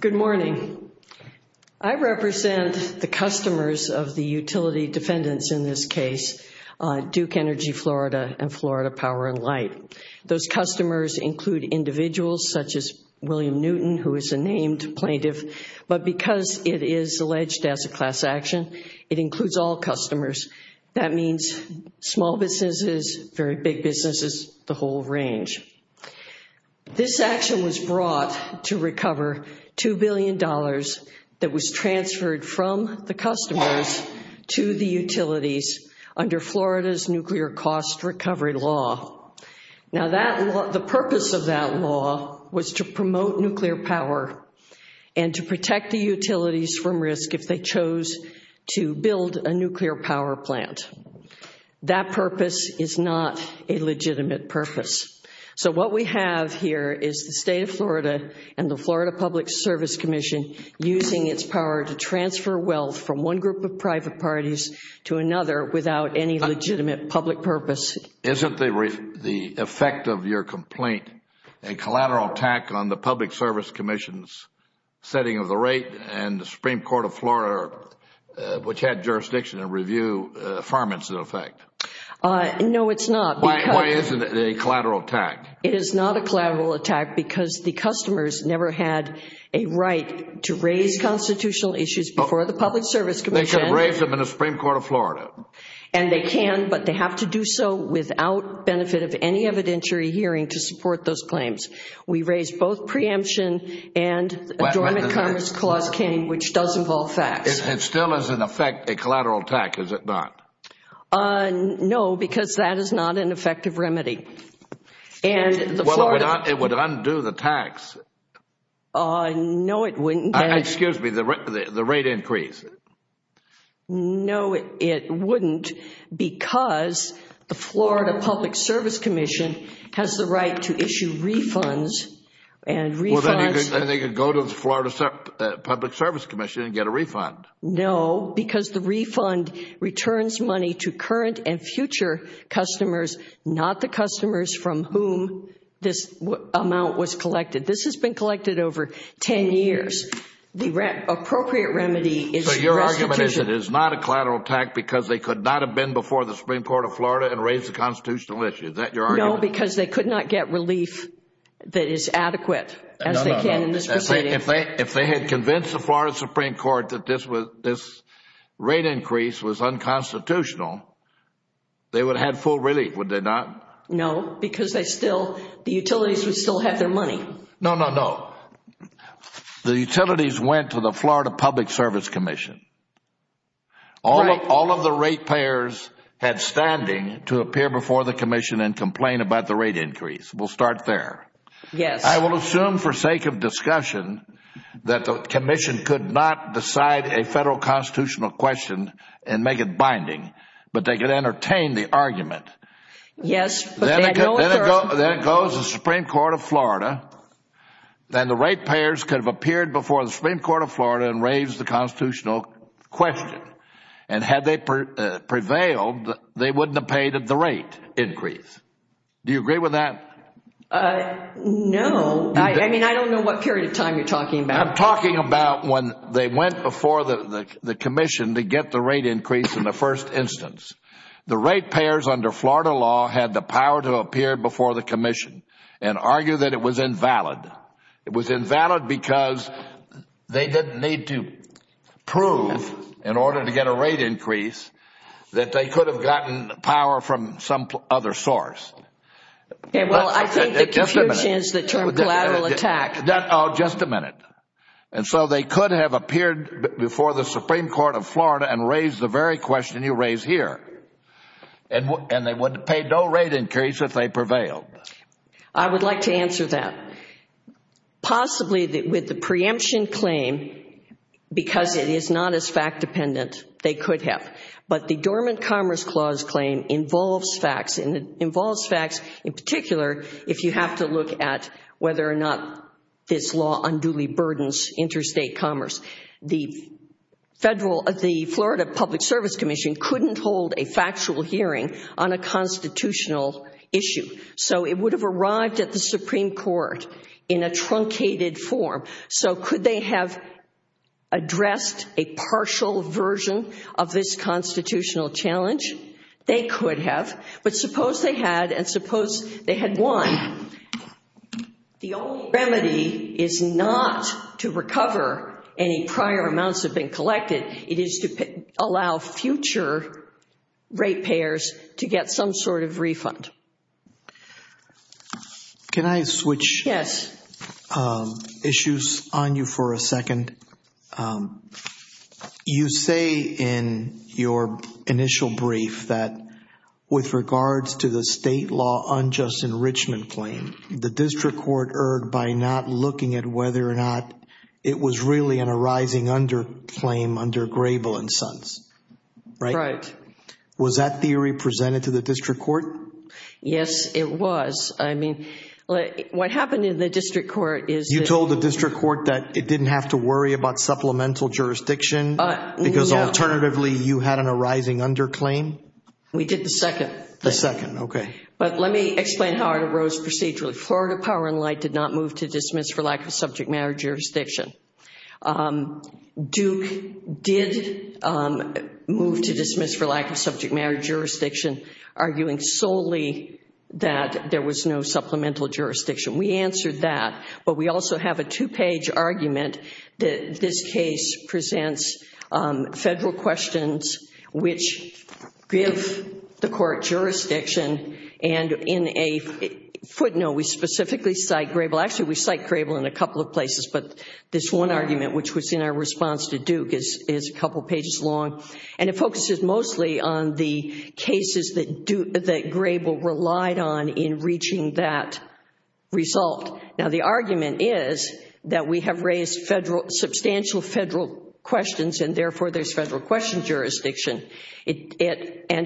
Good morning. I represent the customers of the utility defendants in this case, Duke Energy Florida and Florida Power and Light. Those customers include individuals such as all customers. That means small businesses, very big businesses, the whole range. This action was brought to recover $2 billion that was transferred from the customers to the utilities under Florida's nuclear cost recovery law. Now the purpose of that law was to promote to build a nuclear power plant. That purpose is not a legitimate purpose. So what we have here is the state of Florida and the Florida Public Service Commission using its power to transfer wealth from one group of private parties to another without any legitimate public purpose. Isn't the effect of your complaint a collateral attack on the Public Service Commission's setting of the rate and the Supreme Court of Florida, which had jurisdiction to review farm incident effect? No, it is not. Why isn't it a collateral attack? It is not a collateral attack because the customers never had a right to raise constitutional issues before the Public Service Commission. They could have raised them in the Supreme Court of Florida. And they can, but they have to do so without benefit of any evidentiary hearing to support those claims. We raised both preemption and the Adornment Commerce Clause, which does involve facts. It still is, in effect, a collateral attack, is it not? No, because that is not an effective remedy. It would undo the tax. No it wouldn't. Excuse me, the rate increase. No, it wouldn't because the Florida Public Service Commission has the right to issue refunds and refunds. And they could go to the Florida Public Service Commission and get a refund. No, because the refund returns money to current and future customers, not the customers from whom this amount was collected. This has been collected over ten years. The appropriate remedy is the restitution. So your argument is that it is not a collateral attack because they could not have been before the Supreme Court of Florida and raised the constitutional issue. Is that your argument? No, because they could not get relief that is adequate as they can in this proceeding. If they had convinced the Florida Supreme Court that this rate increase was unconstitutional, they would have had full relief, would they not? No, because the utilities would still have their money. No, no, no. The utilities went to the Florida Public Service Commission. All of the rate payers had standing to appear before the commission and complain about the rate increase. We will start there. Yes. I will assume for sake of discussion that the commission could not decide a federal constitutional question and make it binding, but they could entertain the argument. Yes. Then it goes to the Supreme Court of Florida and the rate payers could have appeared before the Supreme Court of Florida and raised the constitutional question. And had they prevailed, they would not have paid the rate increase. Do you agree with that? No. I mean, I do not know what period of time you are talking about. I am talking about when they went before the commission to get the rate increase in the first instance. The rate payers under Florida law had the power to appear before the commission and argue that it was invalid. It was invalid because they did not need to prove in order to get a rate increase that they could have gotten power from some other source. Okay. Well, I think the confusion is the term collateral attack. Just a minute. And so they could have appeared before the Supreme Court of Florida and raised the very question you raised here. And they would have paid no rate increase if they prevailed. I would like to answer that. Possibly with the preemption claim, because it is not as fact-dependent, they could have. But the Dormant Commerce Clause claim involves facts, and it involves facts in particular if you have to look at whether or not this law unduly burdens interstate commerce. The Florida Public Service Commission couldn't hold a factual hearing on a constitutional issue. So it would have arrived at the Supreme Court in a truncated form. So could they have addressed a partial version of this constitutional challenge? They could have. But suppose they had, and suppose they had won. The only remedy is not to recover any prior amounts that have been collected. It is to allow future ratepayers to get some sort of refund. Can I switch issues on you for a second? You say in your initial brief that with regards to the state law unjust enrichment claim, the district court erred by not looking at whether or not it was really an arising under claim under Grable and Sons, right? Right. Was that theory presented to the district court? Yes, it was. I mean, what happened in the district court is that- You didn't worry about supplemental jurisdiction because alternatively you had an arising under claim? We did the second. The second. Okay. But let me explain how it arose procedurally. Florida Power & Light did not move to dismiss for lack of subject matter jurisdiction. Duke did move to dismiss for lack of subject matter jurisdiction, arguing solely that there was no supplemental jurisdiction. We answered that, but we also have a two-page argument that this case presents federal questions which give the court jurisdiction and in a footnote, we specifically cite Grable. Actually, we cite Grable in a couple of places, but this one argument, which was in our response to Duke, is a couple pages long, and it focuses mostly on the cases that Grable relied on in reaching that result. Now, the argument is that we have raised substantial federal questions and therefore, there's federal question jurisdiction, and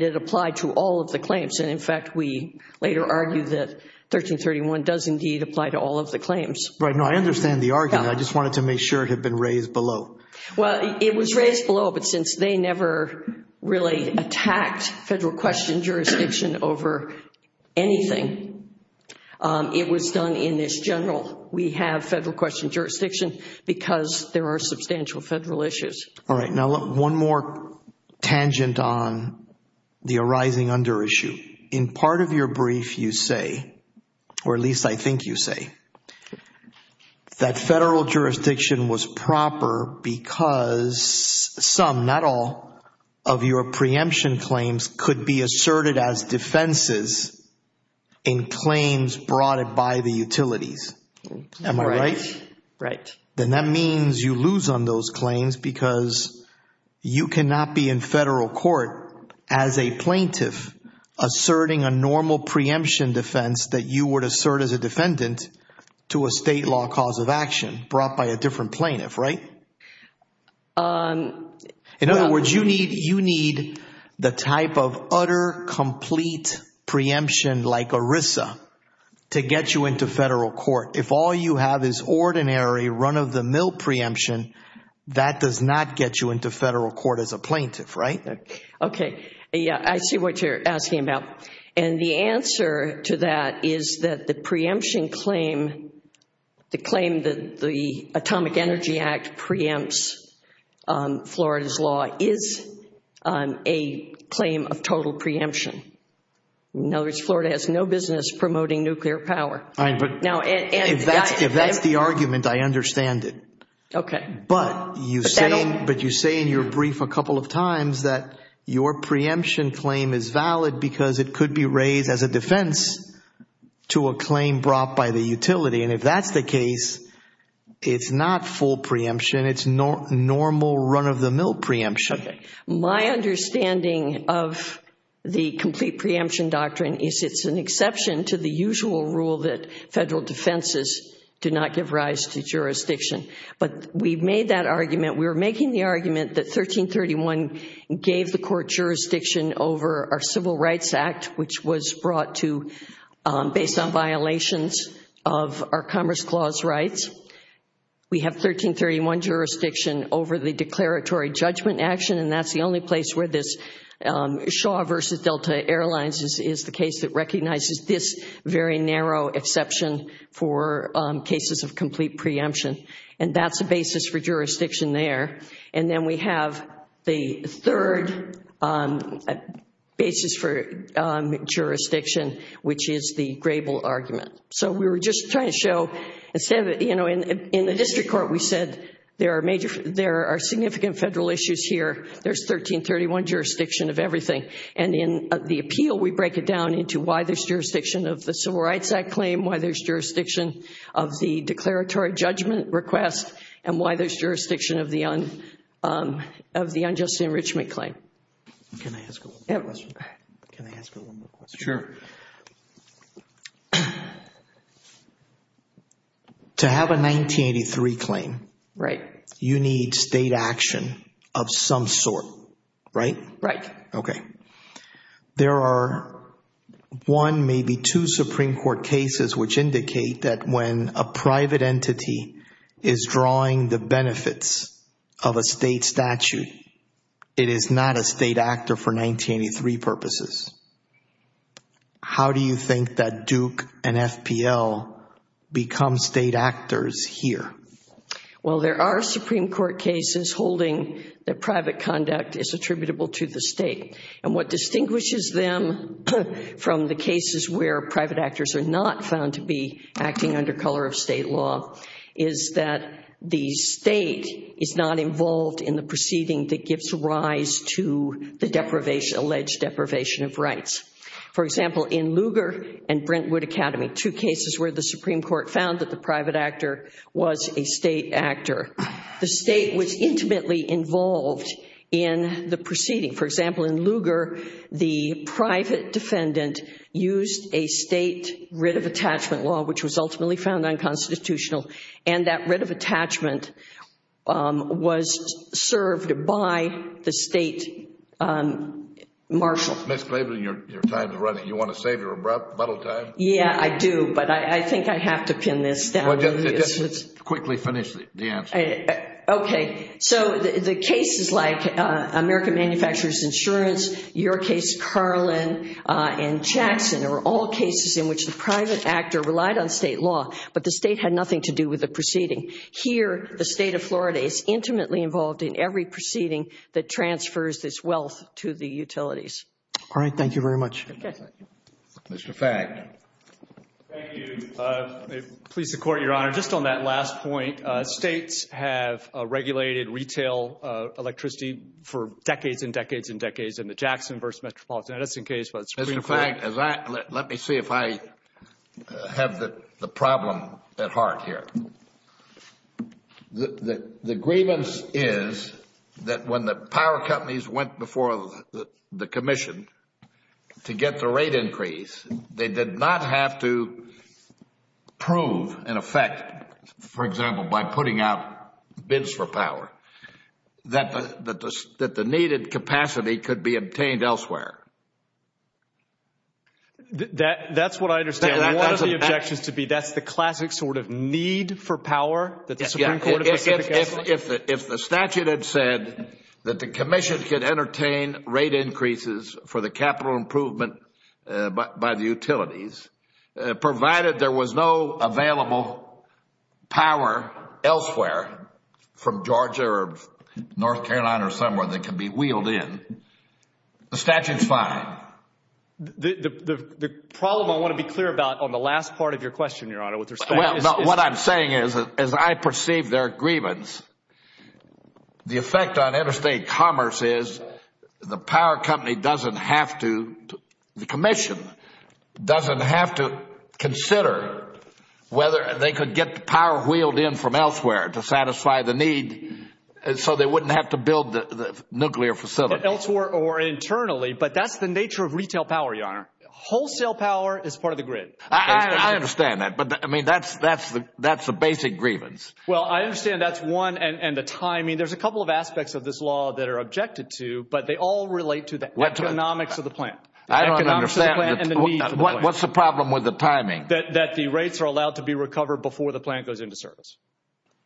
it applied to all of the claims, and in fact, we later argued that 1331 does indeed apply to all of the claims. Right. No, I understand the argument. I just wanted to make sure it had been raised below. Well, it was raised below, but since they never really attacked federal question jurisdiction over anything, it was done in this general. We have federal question jurisdiction because there are substantial federal issues. All right. Now, one more tangent on the arising under issue. In part of your brief, you say, or at least I think you say, that federal jurisdiction was proper because some, not all, of your preemption claims could be asserted as defenses in claims brought by the utilities. Am I right? Right. Then that means you lose on those claims because you cannot be in federal court as a plaintiff asserting a normal preemption defense that you would assert as a defendant to a state law cause of action brought by a different plaintiff, right? In other words, you need the type of utter, complete preemption like ERISA to get you into federal court. If all you have is ordinary run-of-the-mill preemption, that does not get you into federal court as a plaintiff, right? Okay. Yeah, I see what you're asking about. The answer to that is that the preemption claim, the claim that the Atomic Energy Act preempts Florida's law is a claim of total preemption. In other words, Florida has no business promoting nuclear power. If that's the argument, I understand it. Okay. But you say in your brief a couple of times that your preemption claim is valid because it could be raised as a defense to a claim brought by the utility. If that's the case, it's not full preemption. It's normal run-of-the-mill preemption. My understanding of the complete preemption doctrine is it's an exception to the usual rule that federal defenses do not give rise to jurisdiction. But we've made that argument. We're making the argument that 1331 gave the court jurisdiction over our Civil Rights Act, which was brought to based on violations of our Commerce Clause rights. We have 1331 jurisdiction over the declaratory judgment action, and that's the only place where this Shaw versus Delta Airlines is the case that recognizes this very narrow exception for cases of complete preemption. And that's the basis for jurisdiction there. And then we have the third basis for jurisdiction, which is the Grable argument. So we were just trying to show, instead of, you know, in the district court we said there are significant federal issues here. There's 1331 jurisdiction of everything. And in the appeal, we break it down into why there's jurisdiction of the Civil Rights Act claim, why there's jurisdiction of the declaratory judgment request, and why there's jurisdiction of the unjust enrichment claim. Can I ask one more question? Sure. To have a 1983 claim, you need state action of some sort, right? Right. Okay. There are one, maybe two, Supreme Court cases which indicate that when a private entity is drawing the benefits of a state statute, it is not a state actor for 1983 purposes. How do you think that Duke and FPL become state actors here? Well, there are Supreme Court cases holding that private conduct is attributable to the state. And what distinguishes them from the cases where private actors are not found to be acting under color of state law is that the state is not involved in the proceeding that gives rise to the alleged deprivation of rights. For example, in Lugar and Brentwood Academy, two cases where the Supreme Court found that the private actor was a state actor, the state was intimately involved in the proceeding. For example, in Lugar, the private defendant used a state writ of attachment law, which was ultimately found unconstitutional, and that writ of attachment was served by the state marshal. Ms. Klaver, your time is running. You want to save your abrupt bottle time? Yeah, I do, but I think I have to pin this down. Just quickly finish the answer. Okay. So the cases like American Manufacturers Insurance, your case, Carlin and Jackson, are all cases in which the private actor relied on state law, but the state had nothing to do with the proceeding. Here, the state of Florida is intimately involved in every proceeding that transfers this wealth to the utilities. All right. Thank you very much. Okay. Mr. Fagg. Thank you. Please support, Your Honor. Your Honor, just on that last point, states have regulated retail electricity for decades and decades and decades in the Jackson v. Metropolitan Edison case. Mr. Fagg, let me see if I have the problem at heart here. The grievance is that when the power companies went before the Commission to get the rate increase, they did not have to prove, in effect, for example, by putting out bids for power, that the needed capacity could be obtained elsewhere. That's what I understand. One of the objections to be that's the classic sort of need for power that the Supreme Court of Mississippi has? Yeah. If the statute had said that the Commission could entertain rate increases for the capital improvement by the utilities, provided there was no available power elsewhere from Georgia or North Carolina or somewhere that could be wheeled in, the statute is fine. The problem I want to be clear about on the last part of your question, Your Honor, with respect to... What I'm saying is, as I perceive their grievance, the effect on interstate commerce is the power company doesn't have to... The Commission doesn't have to consider whether they could get the power wheeled in from elsewhere to satisfy the need so they wouldn't have to build the nuclear facility. Elsewhere or internally, but that's the nature of retail power, Your Honor. Wholesale power is part of the grid. I understand that, but I mean, that's the basic grievance. Well, I understand that's one and the timing. I mean, there's a couple of aspects of this law that are objected to, but they all relate to the economics of the plant. I don't understand. What's the problem with the timing? That the rates are allowed to be recovered before the plant goes into service.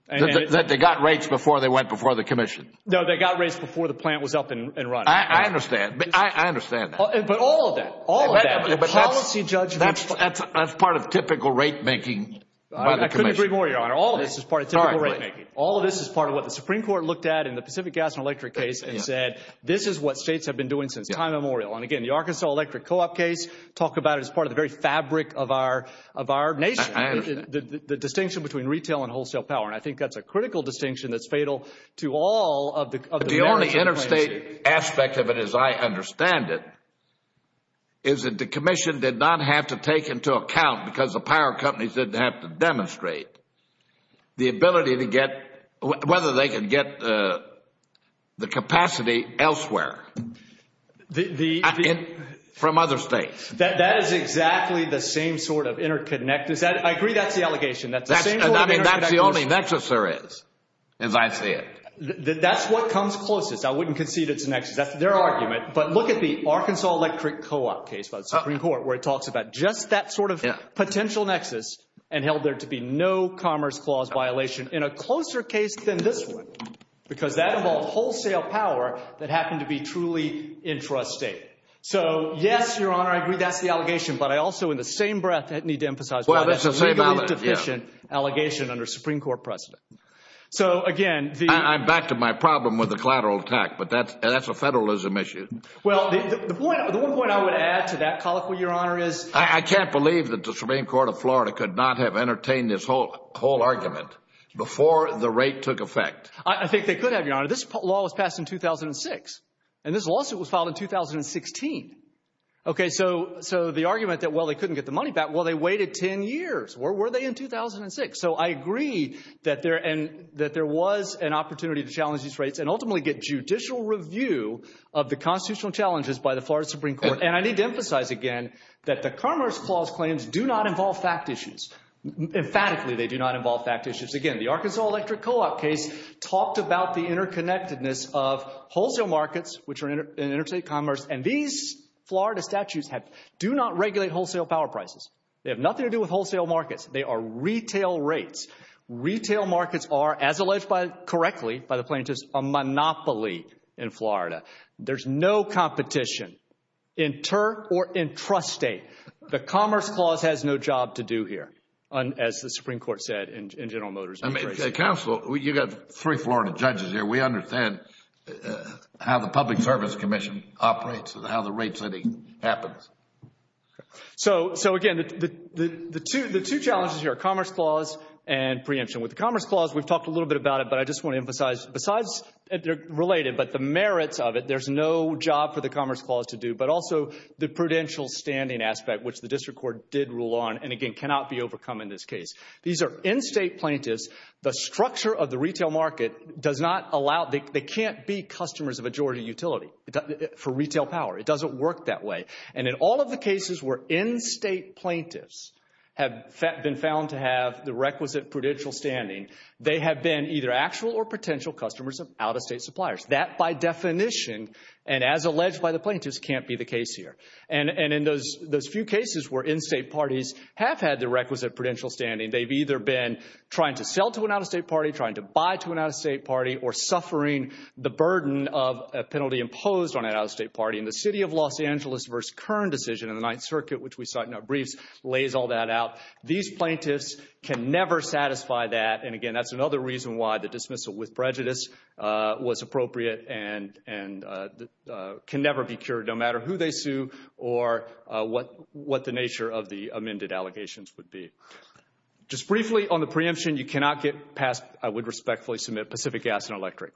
That they got rates before they went before the Commission? No, they got rates before the plant was up and running. I understand. I understand that. But all of that, all of that, the policy judgment... That's part of typical rate making by the Commission. I couldn't agree more, Your Honor. All of this is part of typical rate making. All of this is part of what the Supreme Court looked at in the Pacific Gas and Electric case and said, this is what states have been doing since time immemorial. And again, the Arkansas Electric Co-op case, talk about it as part of the very fabric of our nation. I understand. The distinction between retail and wholesale power, and I think that's a critical distinction that's fatal to all of the... The only interstate aspect of it, as I understand it, is that the Commission did not have to take into account, because the power companies didn't have to demonstrate, the ability to get, whether they could get the capacity elsewhere, from other states. That is exactly the same sort of interconnected... I agree that's the allegation. That's the same sort of... I mean, that's the only nexus there is, as I see it. That's what comes closest. I wouldn't concede it's a nexus. That's their argument. But look at the Arkansas Electric Co-op case by the Supreme Court, where it talks about just that sort of potential nexus and held there to be no commerce clause violation in a closer case than this one, because that involved wholesale power that happened to be truly intrastate. So yes, Your Honor, I agree that's the allegation, but I also, in the same breath, need to emphasize that's a legally deficient allegation under Supreme Court precedent. So again, the... I'm back to my problem with the collateral attack, but that's a federalism issue. Well, the one point I would add to that colloquy, Your Honor, is... I can't believe that the Supreme Court of Florida could not have entertained this whole argument before the rate took effect. I think they could have, Your Honor. This law was passed in 2006, and this lawsuit was filed in 2016, okay? So the argument that, well, they couldn't get the money back, well, they waited 10 years. Where were they in 2006? So I agree that there was an opportunity to challenge these rates and ultimately get judicial review of the constitutional challenges by the Florida Supreme Court. And I need to emphasize again that the commerce clause claims do not involve fact issues. Emphatically, they do not involve fact issues. Again, the Arkansas Electric Co-op case talked about the interconnectedness of wholesale markets, which are in interstate commerce, and these Florida statutes do not regulate wholesale power prices. They have nothing to do with wholesale markets. They are retail rates. Retail markets are, as alleged correctly by the plaintiffs, a monopoly in Florida. There's no competition. Inter or intrastate. The commerce clause has no job to do here, as the Supreme Court said in General Motors' brief reasoning. Counsel, you've got three Florida judges here. We understand how the Public Service Commission operates and how the rate setting happens. So again, the two challenges here are commerce clause and preemption. With the commerce clause, we've talked a little bit about it, but I just want to emphasize, besides they're related, but the merits of it, there's no job for the commerce clause to do, but also the prudential standing aspect, which the District Court did rule on and again cannot be overcome in this case. These are in-state plaintiffs. The structure of the retail market does not allow, they can't be customers of a majority utility for retail power. It doesn't work that way, and in all of the cases where in-state plaintiffs have been found to have the requisite prudential standing, they have been either actual or potential customers of out-of-state suppliers. That, by definition, and as alleged by the plaintiffs, can't be the case here. And in those few cases where in-state parties have had the requisite prudential standing, they've either been trying to sell to an out-of-state party, trying to buy to an out-of-state party, or suffering the burden of a penalty imposed on an out-of-state party, and the City of Los Angeles v. Kern decision in the Ninth Circuit, which we cite in our briefs, lays all that out. These plaintiffs can never satisfy that, and again, that's another reason why the dismissal with prejudice was appropriate and can never be cured, no matter who they sue or what the nature of the amended allegations would be. Just briefly on the preemption, you cannot get past, I would respectfully submit, Pacific Gas and Electric.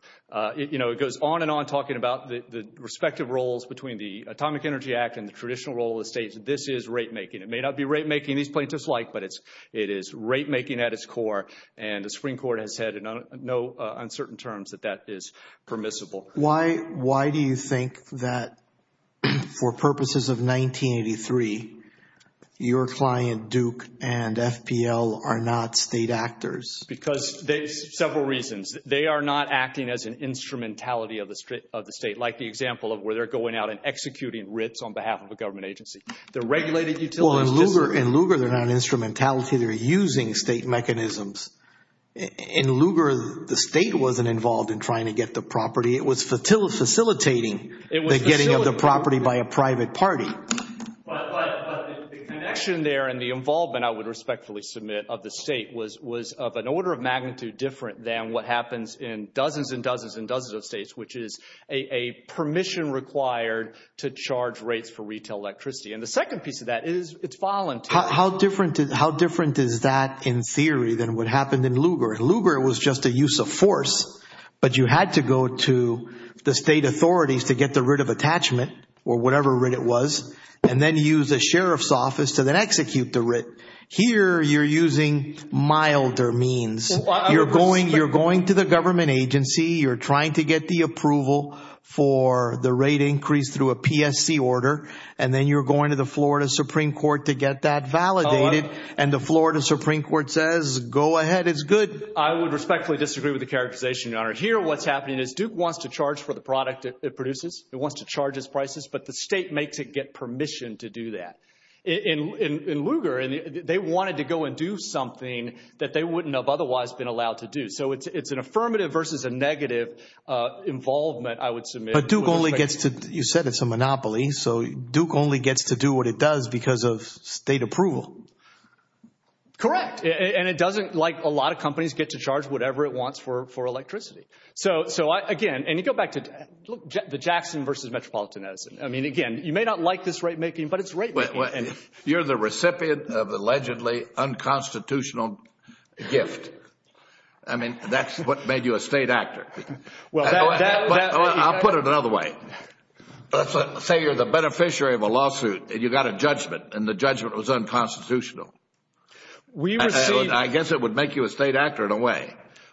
You know, it goes on and on talking about the respective roles between the Atomic Energy Act and the traditional role of the states. This is rate-making. It may not be rate-making these plaintiffs like, but it is rate-making at its core, and the Supreme Court has said in no uncertain terms that that is permissible. Why do you think that, for purposes of 1983, your client Duke and FPL are not state actors? Because there's several reasons. They are not acting as an instrumentality of the state, like the example of where they're going out and executing writs on behalf of a government agency. The regulated utilities… In Lugar, they're not instrumentality, they're using state mechanisms. In Lugar, the state wasn't involved in trying to get the property. It was facilitating the getting of the property by a private party. But the connection there and the involvement, I would respectfully submit, of the state was of an order of magnitude different than what happens in dozens and dozens and dozens of states, which is a permission required to charge rates for retail electricity. And the second piece of that is it's voluntary. How different is that in theory than what happened in Lugar? In Lugar, it was just a use of force, but you had to go to the state authorities to get the writ of attachment, or whatever writ it was, and then use a sheriff's office to then execute the writ. Here you're using milder means. You're going to the government agency, you're trying to get the approval for the rate increase through a PSC order, and then you're going to the Florida Supreme Court to get that validated, and the Florida Supreme Court says, go ahead, it's good. I would respectfully disagree with the characterization, Your Honor. Here what's happening is Duke wants to charge for the product it produces, it wants to charge its prices, but the state makes it get permission to do that. In Lugar, they wanted to go and do something that they wouldn't have otherwise been allowed to do. So it's an affirmative versus a negative involvement, I would submit. But Duke only gets to, you said it's a monopoly, so Duke only gets to do what it does because of state approval. Correct. And it doesn't, like a lot of companies, get to charge whatever it wants for electricity. So again, and you go back to the Jackson versus Metropolitan Edison. I mean, again, you may not like this rate making, but it's rate making. You're the recipient of allegedly unconstitutional gift. I mean, that's what made you a state actor. I'll put it another way. Say you're the beneficiary of a lawsuit and you got a judgment and the judgment was unconstitutional. I guess it would make you a state actor in a way.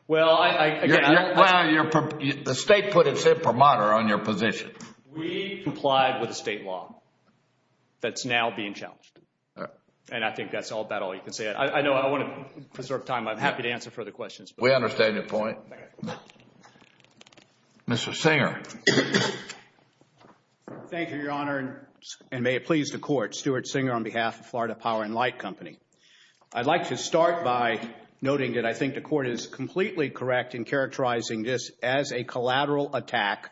The state put its imprimatur on your position. We complied with the state law that's now being challenged. And I think that's about all you can say. I know I want to preserve time, I'm happy to answer further questions. We understand your point. Mr. Singer. Thank you, Your Honor, and may it please the Court. Stuart Singer on behalf of Florida Power and Light Company. I'd like to start by noting that I think the Court is completely correct in characterizing this as a collateral attack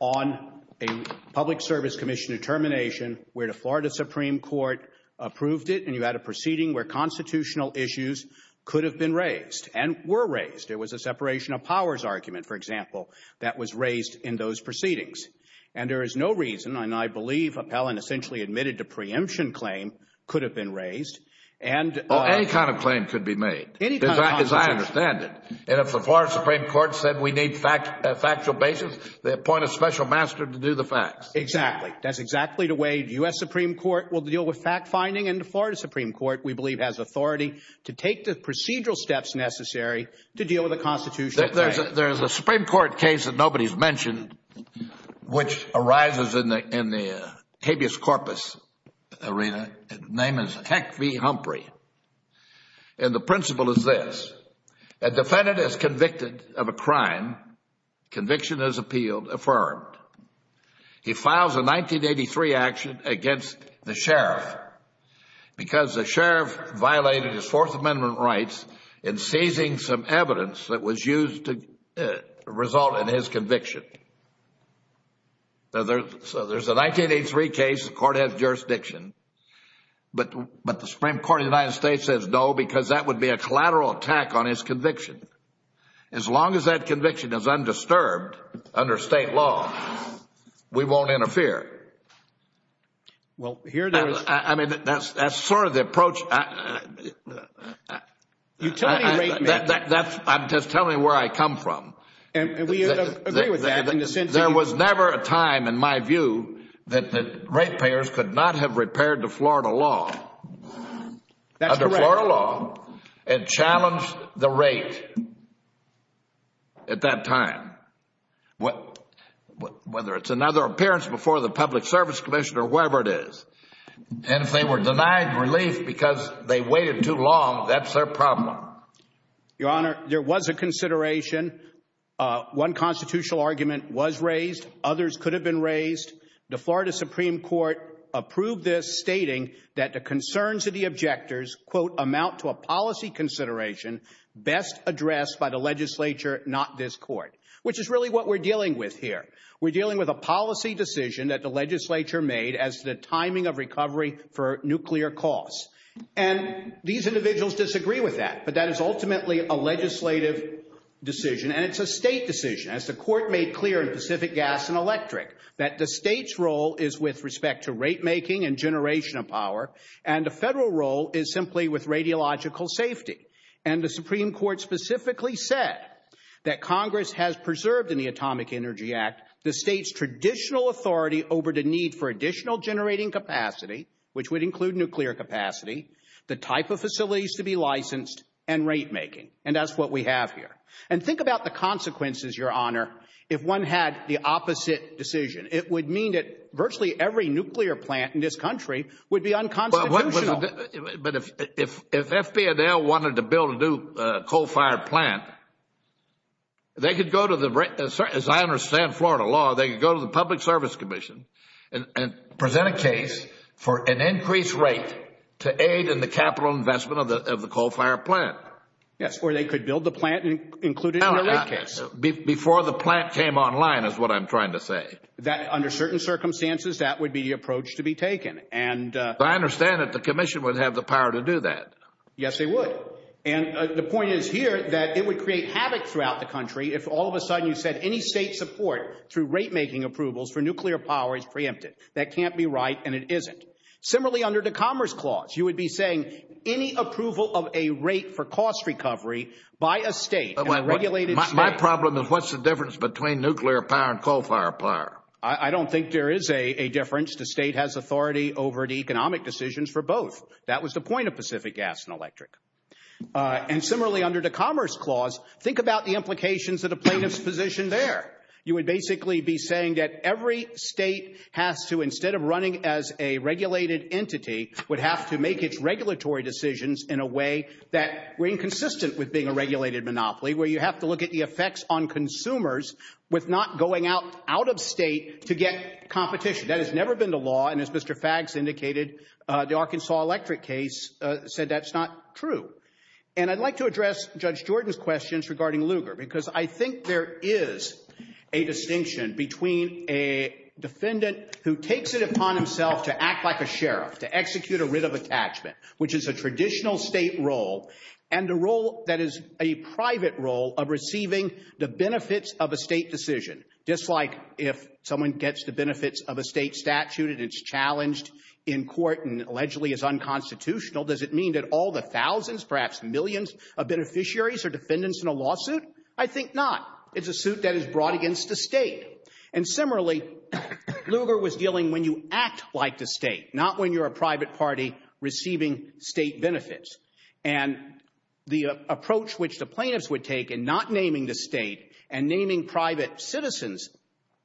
on a Public Service Commission determination where the Florida Supreme Court approved it and you had a proceeding where constitutional issues could have been raised and were raised. It was a separation of powers argument, for example, that was raised in those proceedings. And there is no reason, and I believe Appellant essentially admitted to preemption claim, could have been raised. Oh, any kind of claim could be made, as I understand it. And if the Florida Supreme Court said we need factual basis, they appoint a special master to do the facts. Exactly. That's exactly the way the U.S. Supreme Court will deal with fact-finding and the Florida Supreme Court, we believe, has authority to take the procedural steps necessary to deal with a constitutional claim. There's a Supreme Court case that nobody's mentioned which arises in the habeas corpus arena. The name is Heck v. Humphrey, and the principle is this. A defendant is convicted of a crime. Conviction is appealed, affirmed. He files a 1983 action against the sheriff because the sheriff violated his Fourth Amendment rights in seizing some evidence that was used to result in his conviction. So there's a 1983 case, the court has jurisdiction, but the Supreme Court of the United States says no because that would be a collateral attack on his conviction, as long as that we won't interfere. Well, here there is... I mean, that's sort of the approach... You tell me where you come from. I'm just telling you where I come from. And we agree with that in the sense that... There was never a time, in my view, that the ratepayers could not have repaired the Florida law. That's correct. Under Florida law, it challenged the rate at that time. Whether it's another appearance before the public service commissioner, whatever it is. And if they were denied relief because they waited too long, that's their problem. Your Honor, there was a consideration. One constitutional argument was raised, others could have been raised. The Florida Supreme Court approved this, stating that the concerns of the objectors, quote, by the legislature, not this court. Which is really what we're dealing with here. We're dealing with a policy decision that the legislature made as the timing of recovery for nuclear costs. And these individuals disagree with that, but that is ultimately a legislative decision and it's a state decision, as the court made clear in Pacific Gas and Electric, that the state's role is with respect to rate making and generation of power, and the federal role is simply with radiological safety. And the Supreme Court specifically said that Congress has preserved in the Atomic Energy Act the state's traditional authority over the need for additional generating capacity, which would include nuclear capacity, the type of facilities to be licensed, and rate making. And that's what we have here. And think about the consequences, Your Honor, if one had the opposite decision. It would mean that virtually every nuclear plant in this country would be unconstitutional. But if FB&L wanted to build a new coal-fired plant, they could go to the, as I understand Florida law, they could go to the Public Service Commission and present a case for an increased rate to aid in the capital investment of the coal-fired plant. Yes, or they could build the plant and include it in the rate case. Before the plant came online, is what I'm trying to say. Under certain circumstances, that would be the approach to be taken. I understand that the Commission would have the power to do that. Yes, they would. And the point is here that it would create havoc throughout the country if all of a sudden you said any state support through rate making approvals for nuclear power is preempted. That can't be right, and it isn't. Similarly, under the Commerce Clause, you would be saying any approval of a rate for cost recovery by a state, by a regulated state. My problem is what's the difference between nuclear power and coal-fired power? I don't think there is a difference. The state has authority over the economic decisions for both. That was the point of Pacific Gas and Electric. And similarly, under the Commerce Clause, think about the implications of the plaintiff's position there. You would basically be saying that every state has to, instead of running as a regulated entity, would have to make its regulatory decisions in a way that were inconsistent with being a regulated monopoly, where you have to look at the effects on consumers with not going out of state to get competition. That has never been the law, and as Mr. Faggs indicated, the Arkansas Electric case said that's not true. And I'd like to address Judge Jordan's questions regarding Lugar, because I think there is a distinction between a defendant who takes it upon himself to act like a sheriff, to execute a writ of attachment, which is a traditional state role, and a role that is a private role of receiving the benefits of a state decision, just like if someone gets the benefits of a state statute and it's challenged in court and allegedly is unconstitutional, does it mean that all the thousands, perhaps millions of beneficiaries are defendants in a lawsuit? I think not. It's a suit that is brought against the state. And similarly, Lugar was dealing when you act like the state, not when you're a private party receiving state benefits. And the approach which the plaintiffs would take in not naming the state and naming private citizens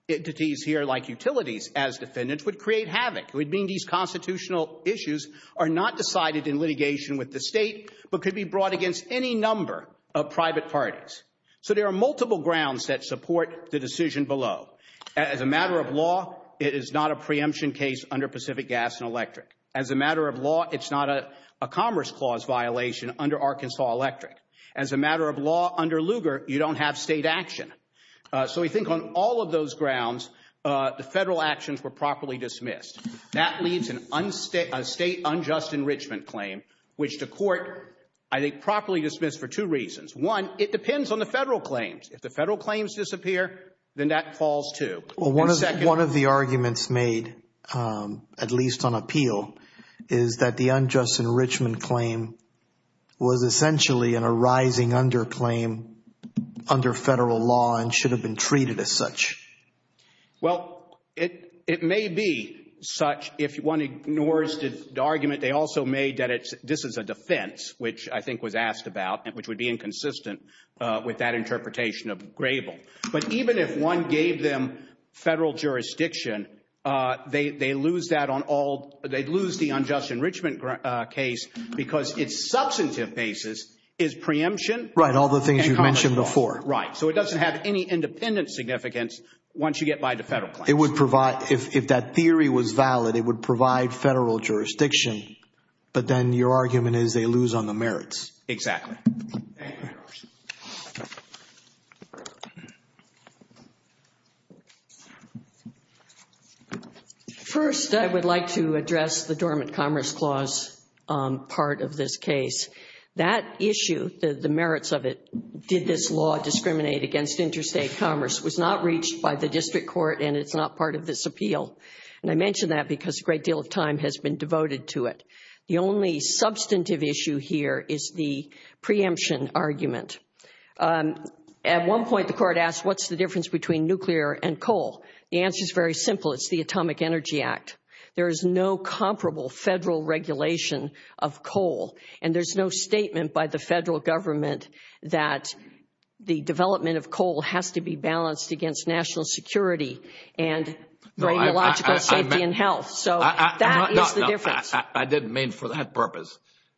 entities here, like utilities, as defendants, would create havoc. It would mean these constitutional issues are not decided in litigation with the state, but could be brought against any number of private parties. So there are multiple grounds that support the decision below. As a matter of law, it is not a preemption case under Pacific Gas and Electric. As a matter of law, it's not a Commerce Clause violation under Arkansas Electric. As a matter of law, under Lugar, you don't have state action. So we think on all of those grounds, the federal actions were properly dismissed. That leads to a state unjust enrichment claim, which the court, I think, properly dismissed for two reasons. One, it depends on the federal claims. If the federal claims disappear, then that falls too. One of the arguments made, at least on appeal, is that the unjust enrichment claim was essentially an arising underclaim under federal law and should have been treated as such. Well, it may be such. If one ignores the argument, they also made that this is a defense, which I think was asked about, which would be inconsistent with that interpretation of Grable. But even if one gave them federal jurisdiction, they'd lose the unjust enrichment case because its substantive basis is preemption and commerce clause. Right. All the things you've mentioned before. Right. So it doesn't have any independent significance once you get by the federal claims. It would provide, if that theory was valid, it would provide federal jurisdiction. But then your argument is they lose on the merits. Exactly. First, I would like to address the Dormant Commerce Clause. Part of this case, that issue, the merits of it, did this law discriminate against interstate commerce was not reached by the district court and it's not part of this appeal. And I mentioned that because a great deal of time has been devoted to it. The only substantive issue here is the preemption argument. At one point, the court asked, what's the difference between nuclear and coal? The answer is very simple. It's the Atomic Energy Act. There is no comparable federal regulation of coal. And there's no statement by the federal government that the development of coal has to be balanced against national security and radiological safety and health. So that is the difference. I didn't mean for that purpose.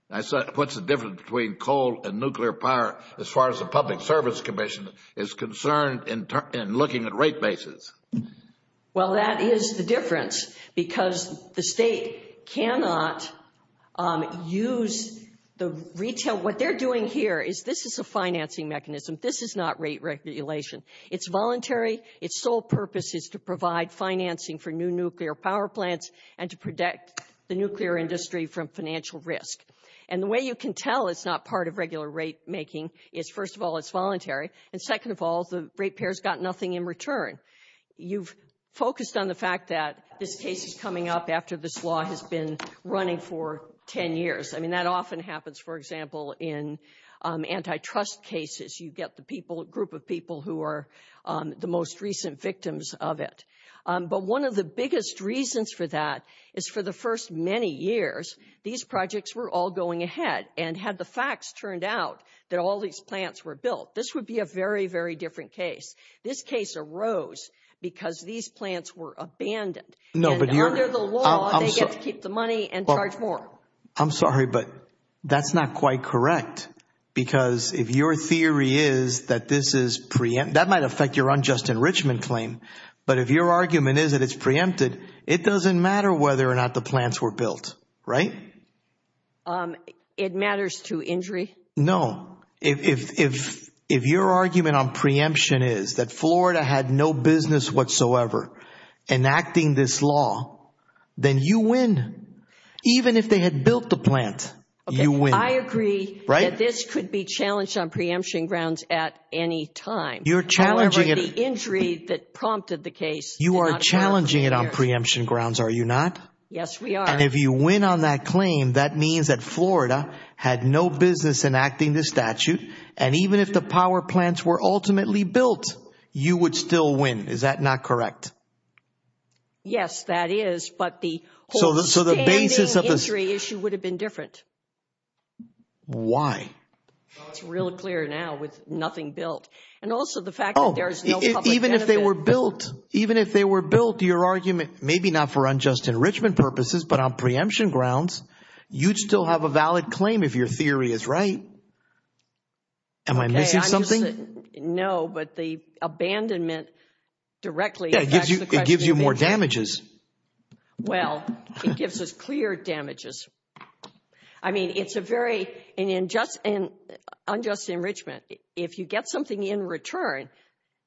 What's the difference between coal and nuclear power as far as the Public Service Commission is concerned in looking at rate bases? Well, that is the difference because the state cannot use the retail. What they're doing here is this is a financing mechanism. This is not rate regulation. It's voluntary. Its sole purpose is to provide financing for new nuclear power plants and to protect the nuclear industry from financial risk. And the way you can tell it's not part of regular rate making is, first of all, it's voluntary. And second of all, the rate payers got nothing in return. You've focused on the fact that this case is coming up after this law has been running for 10 years. I mean, that often happens, for example, in antitrust cases. You get the people, a group of people who are the most recent victims of it. But one of the biggest reasons for that is for the first many years, these projects were all going ahead and had the facts turned out that all these plants were built, this would be a very, very different case. This case arose because these plants were abandoned. No, but you're under the law, they get to keep the money and charge more. I'm sorry, but that's not quite correct. Because if your theory is that this is preempt, that might affect your unjust enrichment claim. But if your argument is that it's preempted, it doesn't matter whether or not the plants were built, right? It matters to injury. No, if your argument on preemption is that Florida had no business whatsoever enacting this law, then you win. Even if they had built the plant, you win. I agree that this could be challenged on preemption grounds at any time. You're challenging it. However, the injury that prompted the case did not occur. You are challenging it on preemption grounds, are you not? Yes, we are. And if you win on that claim, that means that Florida had no business enacting the statute. And even if the power plants were ultimately built, you would still win. Is that not correct? Yes, that is. But the whole standing injury issue would have been different. Why? It's real clear now with nothing built. And also the fact that there is no public benefit. Even if they were built, even if they were built, your argument, maybe not for unjust enrichment purposes, but on preemption grounds, you'd still have a valid claim if your theory is right. Am I missing something? No, but the abandonment directly affects the question. It gives you more damages. Well, it gives us clear damages. I mean, it's a very unjust enrichment. If you get something in return,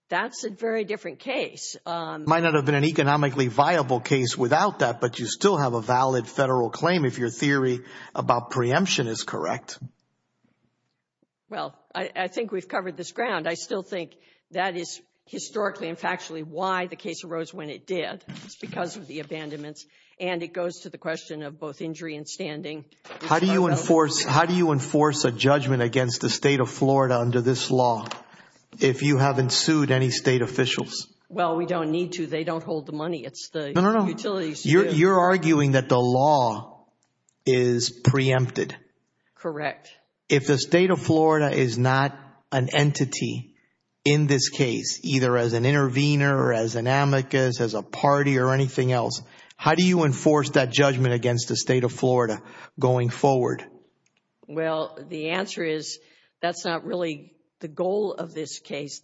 that's a very different case. It might not have been an economically viable case without that, but you still have a valid federal claim if your theory about preemption is correct. Well, I think we've covered this ground. I still think that is historically and factually why the case arose when it did. It's because of the abandonments. And it goes to the question of both injury and standing. How do you enforce a judgment against the state of Florida under this law if you haven't sued any state officials? Well, we don't need to. They don't hold the money. It's the utilities. You're arguing that the law is preempted. Correct. If the state of Florida is not an entity in this case, either as an intervener or as an amicus, as a party or anything else, how do you enforce that judgment against the state of Florida going forward? Well, the answer is that's not really the goal of this case.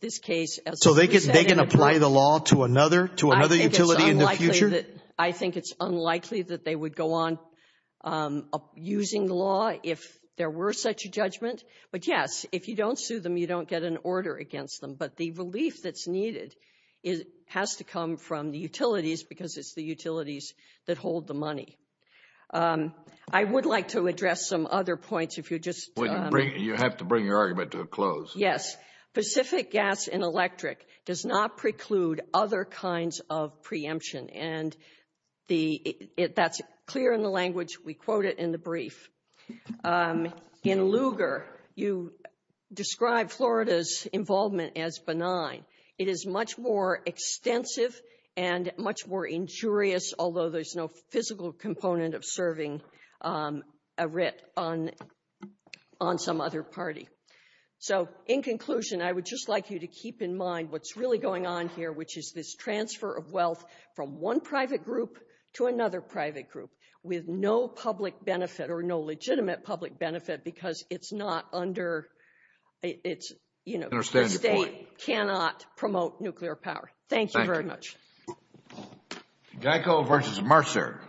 So they can apply the law to another utility in the future? I think it's unlikely that they would go on using the law if there were such a judgment. But yes, if you don't sue them, you don't get an order against them. But the relief that's needed has to come from the utilities because it's the utilities that hold the money. I would like to address some other points if you just — You have to bring your argument to a close. Yes. Pacific Gas and Electric does not preclude other kinds of preemption. And that's clear in the language. We quote it in the brief. In Lugar, you describe Florida's involvement as benign. It is much more extensive and much more injurious, although there's no physical component of serving a writ on some other party. So in conclusion, I would just like you to keep in mind what's really going on here, which is this transfer of wealth from one private group to another private group with no public benefit or no legitimate public benefit because it's not under — I understand the point. The state cannot promote nuclear power. Thank you very much. Thank you. Geico versus Mercer.